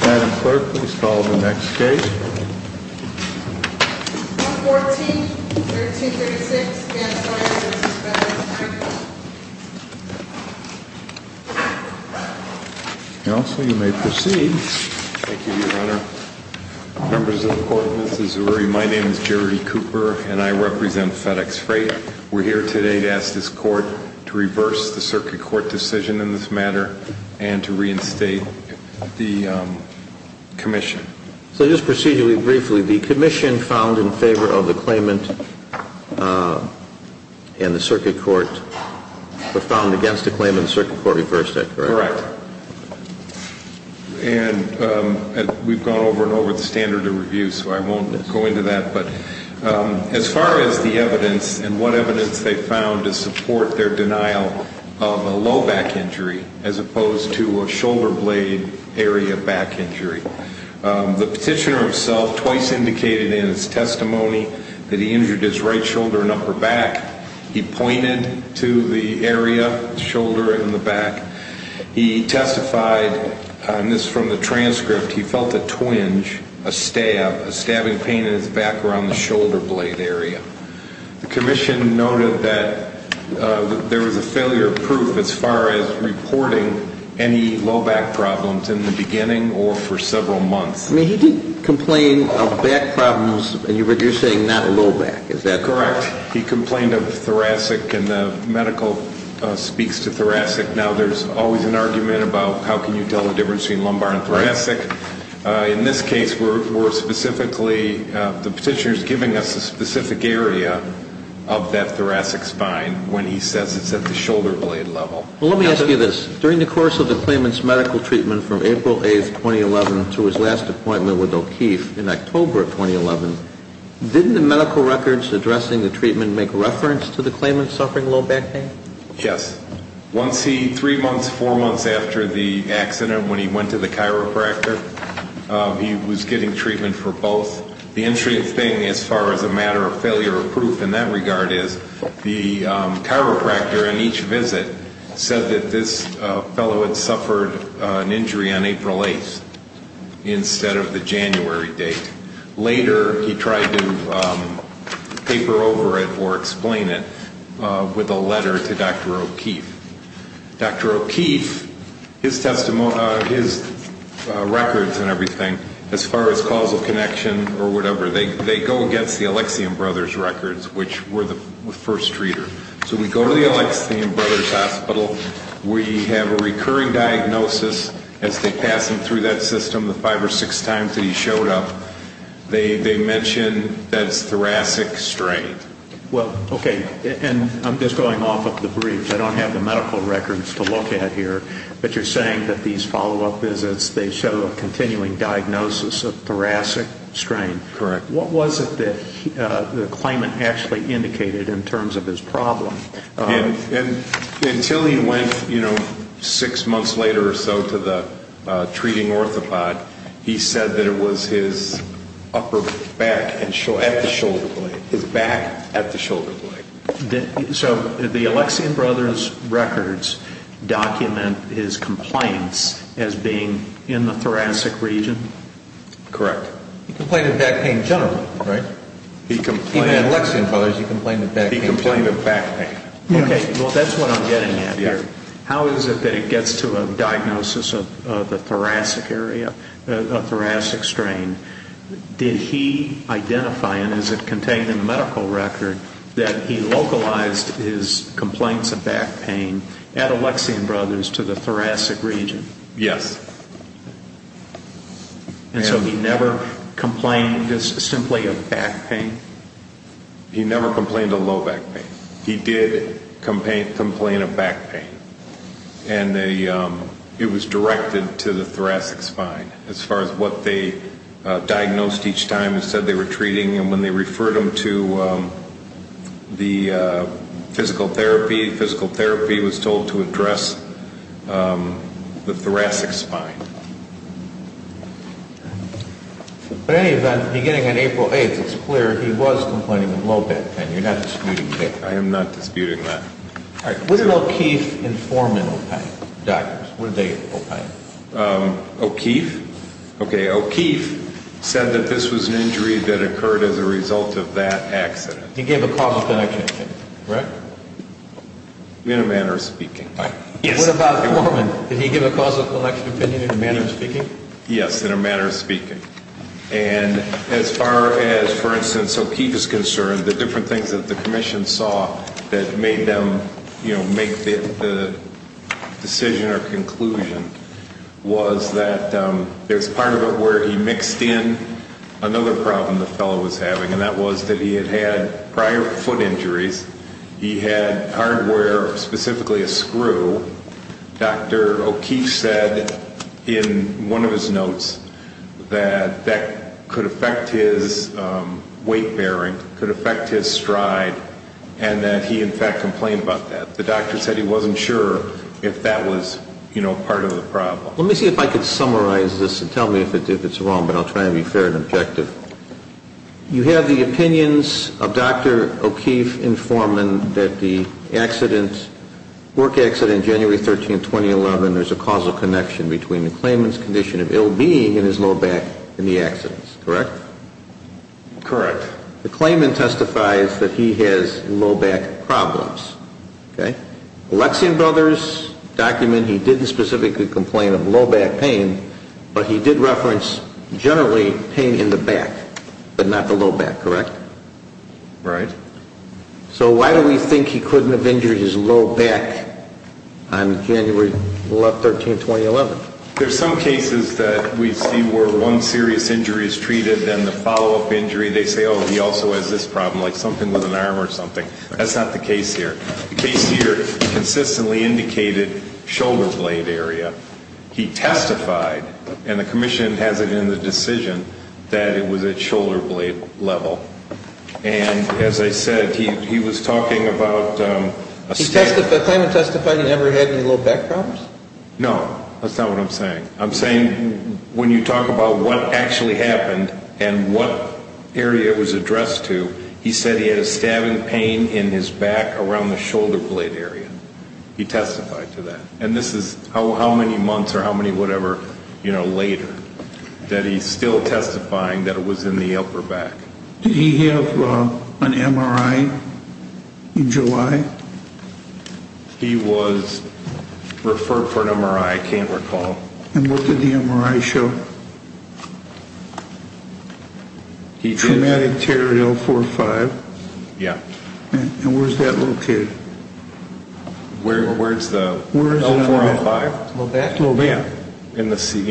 Madam Clerk, please call the next case. 114-1336, Vance Wyer v. FedEx Freight. Counsel, you may proceed. Thank you, Your Honor. Members of the Court, Mrs. Zeruri, my name is Jerry Cooper, and I represent FedEx Freight. We're here today to ask this Court to reverse the circuit court decision in this matter and to reinstate the commission. So just procedurally, briefly, the commission found in favor of the claimant and the circuit court were found against the claimant. The circuit court reversed that, correct? Correct. And we've gone over and over the standard of review, so I won't go into that. But as far as the evidence and what evidence they found to support their denial of a low back injury as opposed to a shoulder blade area back injury, the petitioner himself twice indicated in his testimony that he injured his right shoulder and upper back. He pointed to the area, shoulder and the back. He testified, and this is from the transcript, he felt a twinge, a stab, a stabbing pain in his back around the shoulder blade area. The commission noted that there was a failure of proof as far as reporting any low back problems in the beginning or for several months. He didn't complain of back problems, but you're saying not low back, is that correct? Correct. He complained of thoracic and the medical speaks to thoracic. Now, there's always an argument about how can you tell the difference between lumbar and thoracic. In this case, we're specifically, the petitioner's giving us a specific area of that thoracic spine when he says it's at the shoulder blade level. Well, let me ask you this. During the course of the claimant's medical treatment from April 8th, 2011 to his last appointment with O'Keeffe in October of 2011, didn't the medical records addressing the treatment make reference to the claimant suffering low back pain? Yes. Once he, three months, four months after the accident when he went to the chiropractor, he was getting treatment for both. The interesting thing as far as a matter of failure of proof in that regard is the chiropractor in each visit said that this fellow had suffered an injury on April 8th instead of the January date. Later, he tried to paper over it or explain it with a letter to Dr. O'Keeffe. Dr. O'Keeffe, his records and everything, as far as causal connection or whatever, they go against the Alexian Brothers records, which were the first treater. So we go to the Alexian Brothers Hospital. We have a recurring diagnosis as they pass him through that system the five or six times that he showed up. They mention that it's thoracic strain. Well, okay, and I'm just going off of the brief. I don't have the medical records to look at here, but you're saying that these follow-up visits, they show a continuing diagnosis of thoracic strain. Correct. What was it that the claimant actually indicated in terms of his problem? Until he went six months later or so to the treating orthopod, he said that it was his upper back at the shoulder blade, his back at the shoulder blade. So the Alexian Brothers records document his compliance as being in the thoracic region? Correct. He complained of back pain generally, right? In the Alexian Brothers, he complained of back pain. He complained of back pain. Okay, well, that's what I'm getting at here. How is it that it gets to a diagnosis of the thoracic area, of thoracic strain? Did he identify, and is it contained in the medical record, that he localized his complaints of back pain at Alexian Brothers to the thoracic region? Yes. And so he never complained simply of back pain? He never complained of low back pain. He did complain of back pain, and it was directed to the thoracic spine as far as what they diagnosed each time and said they were treating. And when they referred him to the physical therapy, physical therapy was told to address the thoracic spine. In any event, beginning on April 8th, it's clear he was complaining of low back pain. You're not disputing that? I am not disputing that. Was it O'Keefe informing the doctors? What did they opine? O'Keefe? O'Keefe said that this was an injury that occurred as a result of that accident. He gave a causal connection, correct? In a manner of speaking. What about Foreman? Did he give a causal connection opinion in a manner of speaking? Yes, in a manner of speaking. And as far as, for instance, O'Keefe is concerned, the different things that the commission saw that made them, you know, make the decision or conclusion, was that there's part of it where he mixed in another problem the fellow was having, and that was that he had had prior foot injuries. He had hardware, specifically a screw. Dr. O'Keefe said in one of his notes that that could affect his weight bearing, could affect his stride, and that he, in fact, complained about that. The doctor said he wasn't sure if that was, you know, part of the problem. Let me see if I can summarize this and tell me if it's wrong, but I'll try to be fair and objective. You have the opinions of Dr. O'Keefe informing that the accident, work accident January 13, 2011, there's a causal connection between the claimant's condition of ill being and his low back in the accident, correct? Correct. The claimant testifies that he has low back problems. Okay. Alexian Brothers' document, he didn't specifically complain of low back pain, but he did reference, generally, pain in the back, but not the low back, correct? Right. So why do we think he couldn't have injured his low back on January 13, 2011? There's some cases that we see where one serious injury is treated and the follow-up injury, they say, oh, he also has this problem, like something with an arm or something. That's not the case here. The case here consistently indicated shoulder blade area. He testified, and the commission has it in the decision, that it was at shoulder blade level. And as I said, he was talking about a stabbing. The claimant testified he never had any low back problems? No. That's not what I'm saying. I'm saying when you talk about what actually happened and what area it was addressed to, he said he had a stabbing pain in his back around the shoulder blade area. He testified to that. And this is how many months or how many whatever, you know, later, that he's still testifying that it was in the upper back. Did he have an MRI in July? He was referred for an MRI, I can't recall. And what did the MRI show? Traumatic tear at L4-5. Yeah. And where's that located? Where's the L4-L5? Low back? Low back. You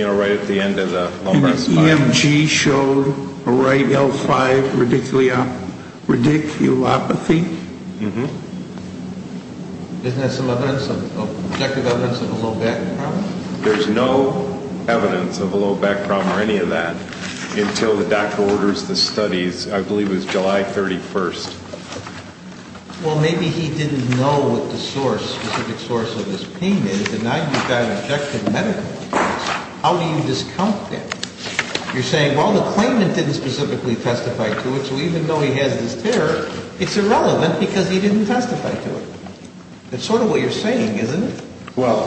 know, right at the end of the lumbar spine. EMG showed a right L5 radiculopathy. Mm-hmm. Isn't that some objective evidence of a low back problem? There's no evidence of a low back problem or any of that until the doctor orders the studies, I believe it was July 31st. Well, maybe he didn't know what the specific source of his pain is and now you've got objective medical evidence. How do you discount that? You're saying, well, the claimant didn't specifically testify to it, so even though he has this tear, it's irrelevant because he didn't testify to it. That's sort of what you're saying, isn't it? Well,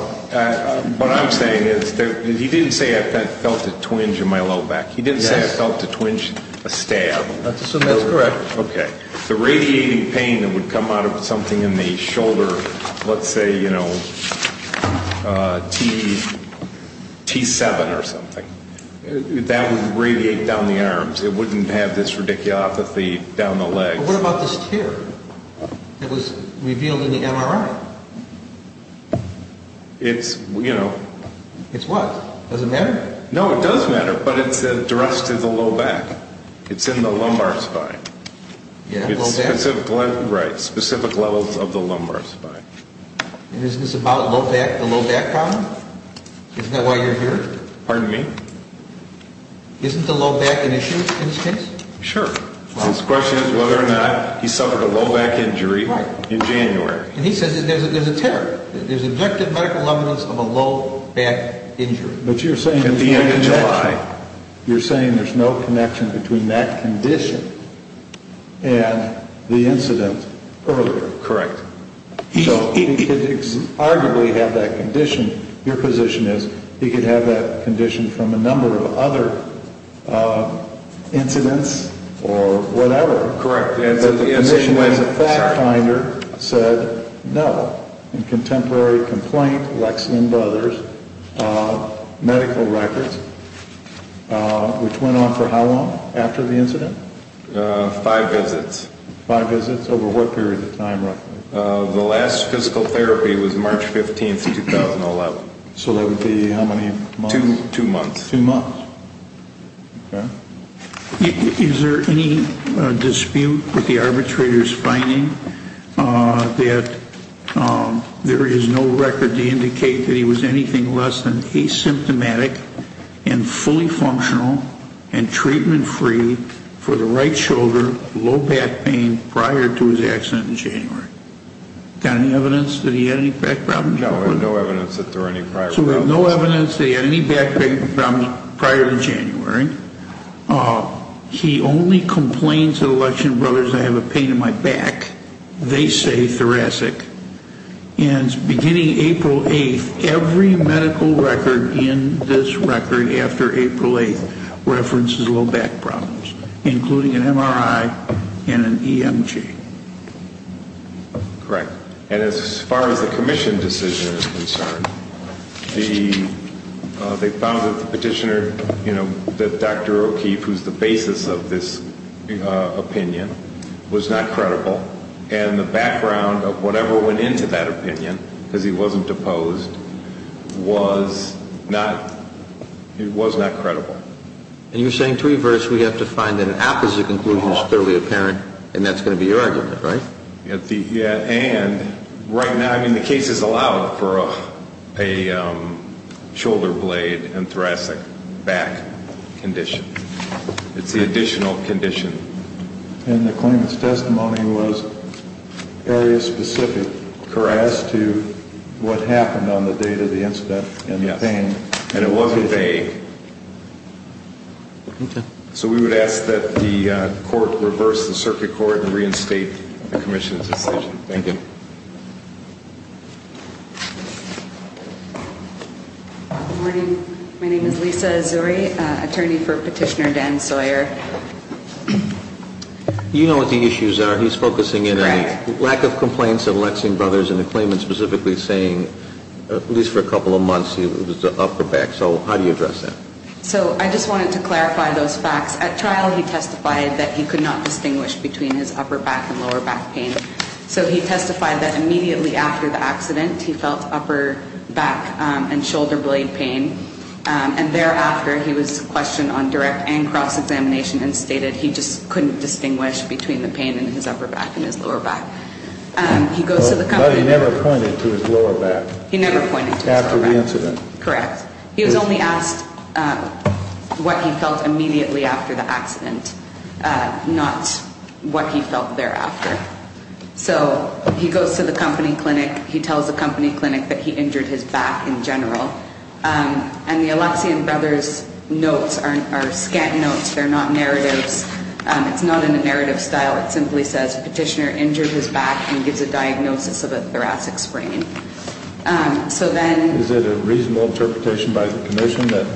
what I'm saying is that he didn't say I felt a twinge in my low back. He didn't say I felt a twinge, a stab. That's correct. Okay. The radiating pain that would come out of something in the shoulder, let's say, you know, T7 or something, that would radiate down the arms. It wouldn't have this radiculopathy down the legs. But what about this tear that was revealed in the MRI? It's, you know. It's what? Does it matter? No, it does matter, but it's addressed to the low back. It's in the lumbar spine. Yeah, low back. Right, specific levels of the lumbar spine. And isn't this about the low back problem? Isn't that why you're here? Pardon me? Isn't the low back an issue in this case? Sure. His question is whether or not he suffered a low back injury in January. And he says there's a tear. There's objective medical evidence of a low back injury. But you're saying there's no connection. At the end of July. You're saying there's no connection between that condition and the incident earlier. Correct. So he could arguably have that condition. Your position is he could have that condition from a number of other incidents or whatever. Correct. But the position of the fact finder said no. In contemporary complaint, Lex and others, medical records, which went on for how long after the incident? Five visits. Five visits. Over what period of time roughly? The last physical therapy was March 15th, 2011. So that would be how many months? Two months. Two months. Okay. Is there any dispute with the arbitrator's finding that there is no record to indicate that he was anything less than asymptomatic and fully functional and treatment free for the right shoulder, low back pain prior to his accident in January? Got any evidence that he had any back problems? No, we have no evidence that there were any prior problems. So we have no evidence that he had any back pain prior to January. He only complains at Election Brothers, I have a pain in my back. They say thoracic. And beginning April 8th, every medical record in this record after April 8th references low back problems, including an MRI and an EMG. Correct. And as far as the commission decision is concerned, they found that the petitioner, you know, that Dr. O'Keefe, who's the basis of this opinion, was not credible. And the background of whatever went into that opinion, because he wasn't deposed, was not credible. And you're saying, to reverse, we have to find that an opposite conclusion is clearly apparent, and that's going to be your argument, right? Yeah. And right now, I mean, the case is allowed for a shoulder blade and thoracic back condition. It's the additional condition. And the claimant's testimony was area-specific as to what happened on the date of the incident and the pain. Yes. And it wasn't vague. So we would ask that the court reverse the circuit court and reinstate the commission's decision. Thank you. Good morning. My name is Lisa Azuri, attorney for Petitioner Dan Sawyer. You know what the issues are. He's focusing in on the lack of complaints of Lexing Brothers and the claimant specifically saying, at least for a couple of months, it was the upper back. So how do you address that? So I just wanted to clarify those facts. At trial, he testified that he could not distinguish between his upper back and lower back pain. So he testified that immediately after the accident, he felt upper back and shoulder blade pain. And thereafter, he was questioned on direct and cross-examination and stated he just couldn't distinguish between the pain in his upper back and his lower back. But he never pointed to his lower back. He never pointed to his lower back. After the incident. Correct. He was only asked what he felt immediately after the accident, not what he felt thereafter. So he goes to the company clinic. He tells the company clinic that he injured his back in general. And the Alexian Brothers notes are scant notes. They're not narratives. It's not in a narrative style. It simply says Petitioner injured his back and gives a diagnosis of a thoracic sprain. So then. Is it a reasonable interpretation by the commission that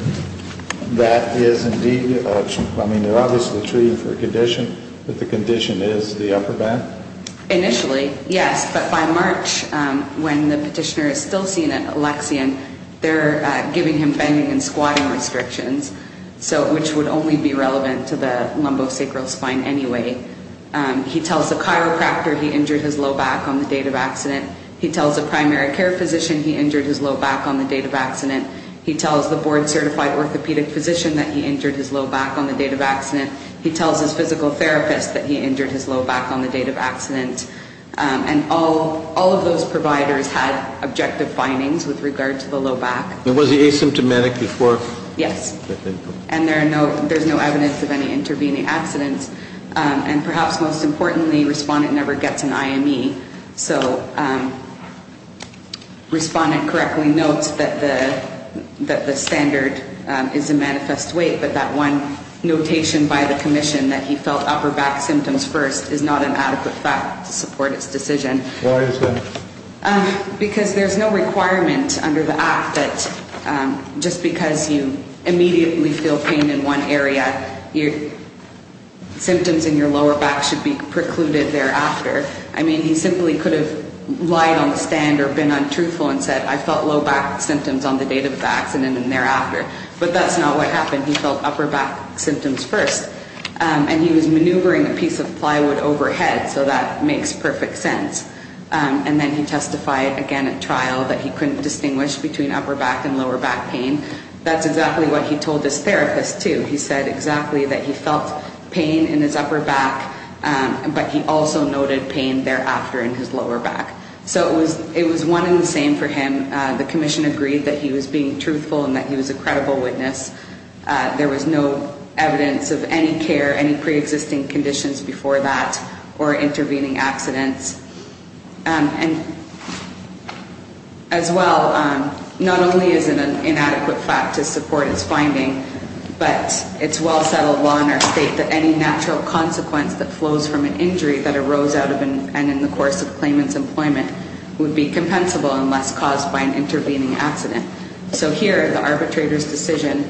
that is indeed, I mean, they're obviously treating for a condition, but the condition is the upper back? Initially, yes. But by March, when the petitioner is still seen at Alexian, they're giving him bending and squatting restrictions, which would only be relevant to the lumbosacral spine anyway. He tells the chiropractor he injured his low back on the date of accident. He tells the primary care physician he injured his low back on the date of accident. He tells the board certified orthopedic physician that he injured his low back on the date of accident. He tells his physical therapist that he injured his low back on the date of accident. And all of those providers had objective findings with regard to the low back. Was he asymptomatic before? Yes. And there's no evidence of any intervening accidents. And perhaps most importantly, respondent never gets an IME. So respondent correctly notes that the standard is a manifest weight, but that one notation by the commission that he felt upper back symptoms first is not an adequate fact to support his decision. Why is that? Because there's no requirement under the act that just because you immediately feel pain in one area, symptoms in your lower back should be precluded thereafter. I mean, he simply could have lied on the stand or been untruthful and said, I felt low back symptoms on the date of accident and thereafter. But that's not what happened. He felt upper back symptoms first. And he was maneuvering a piece of plywood overhead, so that makes perfect sense. And then he testified again at trial that he couldn't distinguish between upper back and lower back pain. That's exactly what he told his therapist, too. He said exactly that he felt pain in his upper back, but he also noted pain thereafter in his lower back. So it was one and the same for him. The commission agreed that he was being truthful and that he was a credible witness. There was no evidence of any care, any preexisting conditions before that, or intervening accidents. And as well, not only is it an inadequate fact to support his finding, but it's well-settled law in our state that any natural consequence that flows from an injury that arose out of and in the course of claimant's employment would be compensable unless caused by an intervening accident. So here, the arbitrator's decision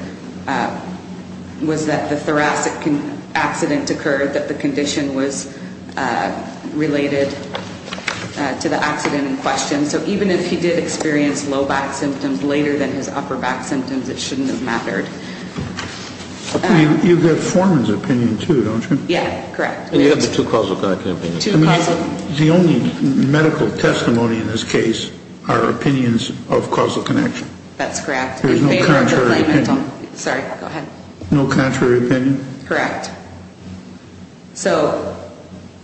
was that the thoracic accident occurred, that the condition was related to the accident in question. So even if he did experience low back symptoms later than his upper back symptoms, it shouldn't have mattered. You've got Foreman's opinion, too, don't you? Yeah, correct. We have the two causal connection opinions. The only medical testimony in this case are opinions of causal connection. That's correct. There's no contrary opinion. Sorry, go ahead. No contrary opinion. Correct. So,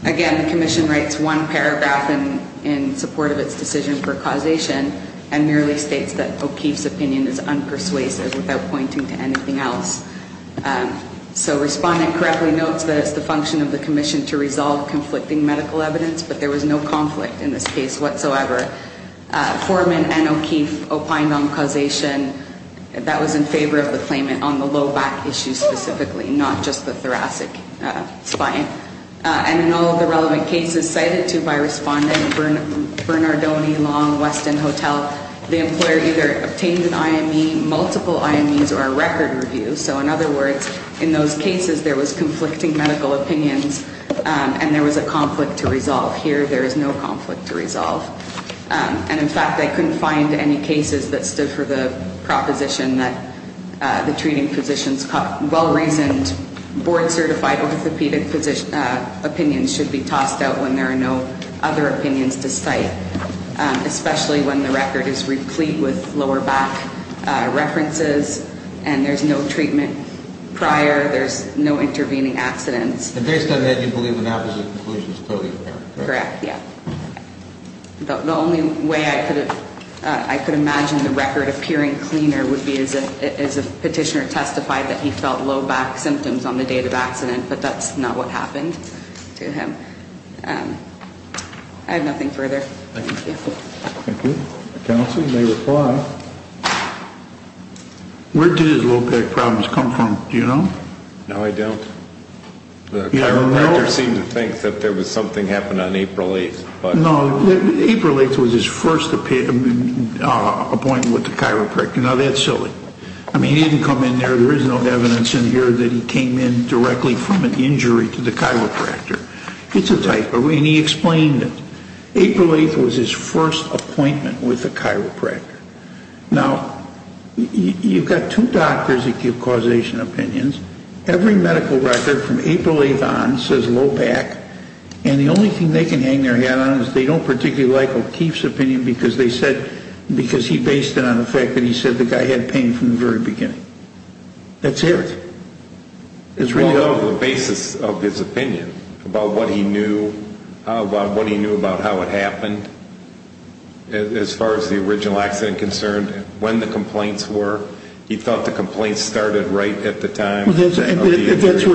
again, the commission writes one paragraph in support of its decision for causation and merely states that O'Keefe's opinion is unpersuasive without pointing to anything else. So Respondent correctly notes that it's the function of the commission to resolve conflicting medical evidence, but there was no conflict in this case whatsoever. Foreman and O'Keefe opined on causation that was in favor of the claimant on the low back issue specifically, not just the thoracic spine. And in all of the relevant cases cited to by Respondent, Bernardoni, Long, Weston, Hotel, the employer either obtained an IME, multiple IMEs, or a record review. So, in other words, in those cases, there was conflicting medical opinions and there was a conflict to resolve. Here, there is no conflict to resolve. And, in fact, I couldn't find any cases that stood for the proposition that the treating physician's well-reasoned, board-certified orthopedic opinion should be tossed out when there are no other opinions to cite, especially when the record is replete with lower back references and there's no treatment prior, there's no intervening accidents. And based on that, you believe an opposite conclusion is totally fair, correct? Correct, yeah. The only way I could imagine the record appearing cleaner would be as a petitioner testified that he felt low back symptoms on the day of the accident, but that's not what happened to him. I have nothing further. Thank you. Thank you. Counsel may reply. Where did his low back problems come from, do you know? No, I don't. The chiropractor seemed to think that something happened on April 8th. No, April 8th was his first appointment with the chiropractor. Now, that's silly. I mean, he didn't come in there. There is no evidence in here that he came in directly from an injury to the chiropractor. It's a typo. And he explained it. April 8th was his first appointment with the chiropractor. Now, you've got two doctors that give causation opinions. Every medical record from April 8th on says low back, and the only thing they can hang their hat on is they don't particularly like O'Keefe's opinion because he based it on the fact that he said the guy had pain from the very beginning. That's it. It's really all of the basis of his opinion about what he knew, what he knew about how it happened, as far as the original accident concerned, when the complaints were. He thought the complaints started right at the time. That's what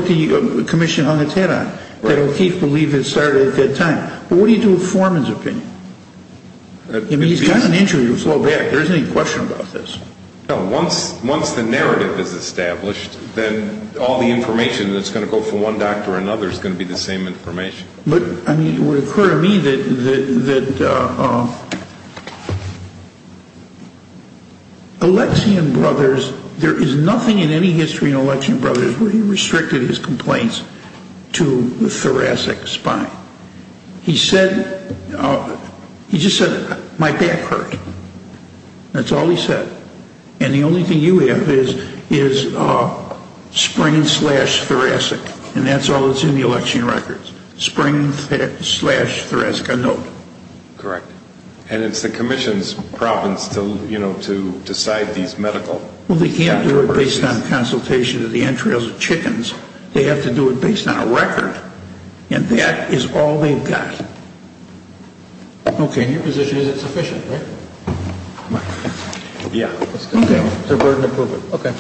the commission hung its hat on, that O'Keefe believed it started at that time. But what do you do with Foreman's opinion? I mean, he's got an injury to his low back. There isn't any question about this. No, once the narrative is established, then all the information that's going to go from one doctor to another is going to be the same information. But it would occur to me that Alexian Brothers, there is nothing in any history in Alexian Brothers where he restricted his complaints to thoracic spine. He said, he just said, my back hurt. That's all he said. And the only thing you have is sprain slash thoracic, and that's all that's in the Alexian records. Sprain slash thoracic, a note. Correct. And it's the commission's province to, you know, to decide these medical matters. Well, they can't do it based on consultation of the entrails of chickens. They have to do it based on a record, and that is all they've got. Okay. And your position is it's sufficient, right? Yeah. Okay. Okay.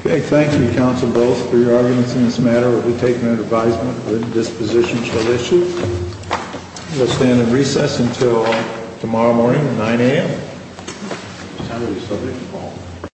Okay. Thank you, counsel Bowles, for your arguments in this matter. We'll take an advisement that this position shall issue. We'll stand at recess until tomorrow morning at 9 a.m.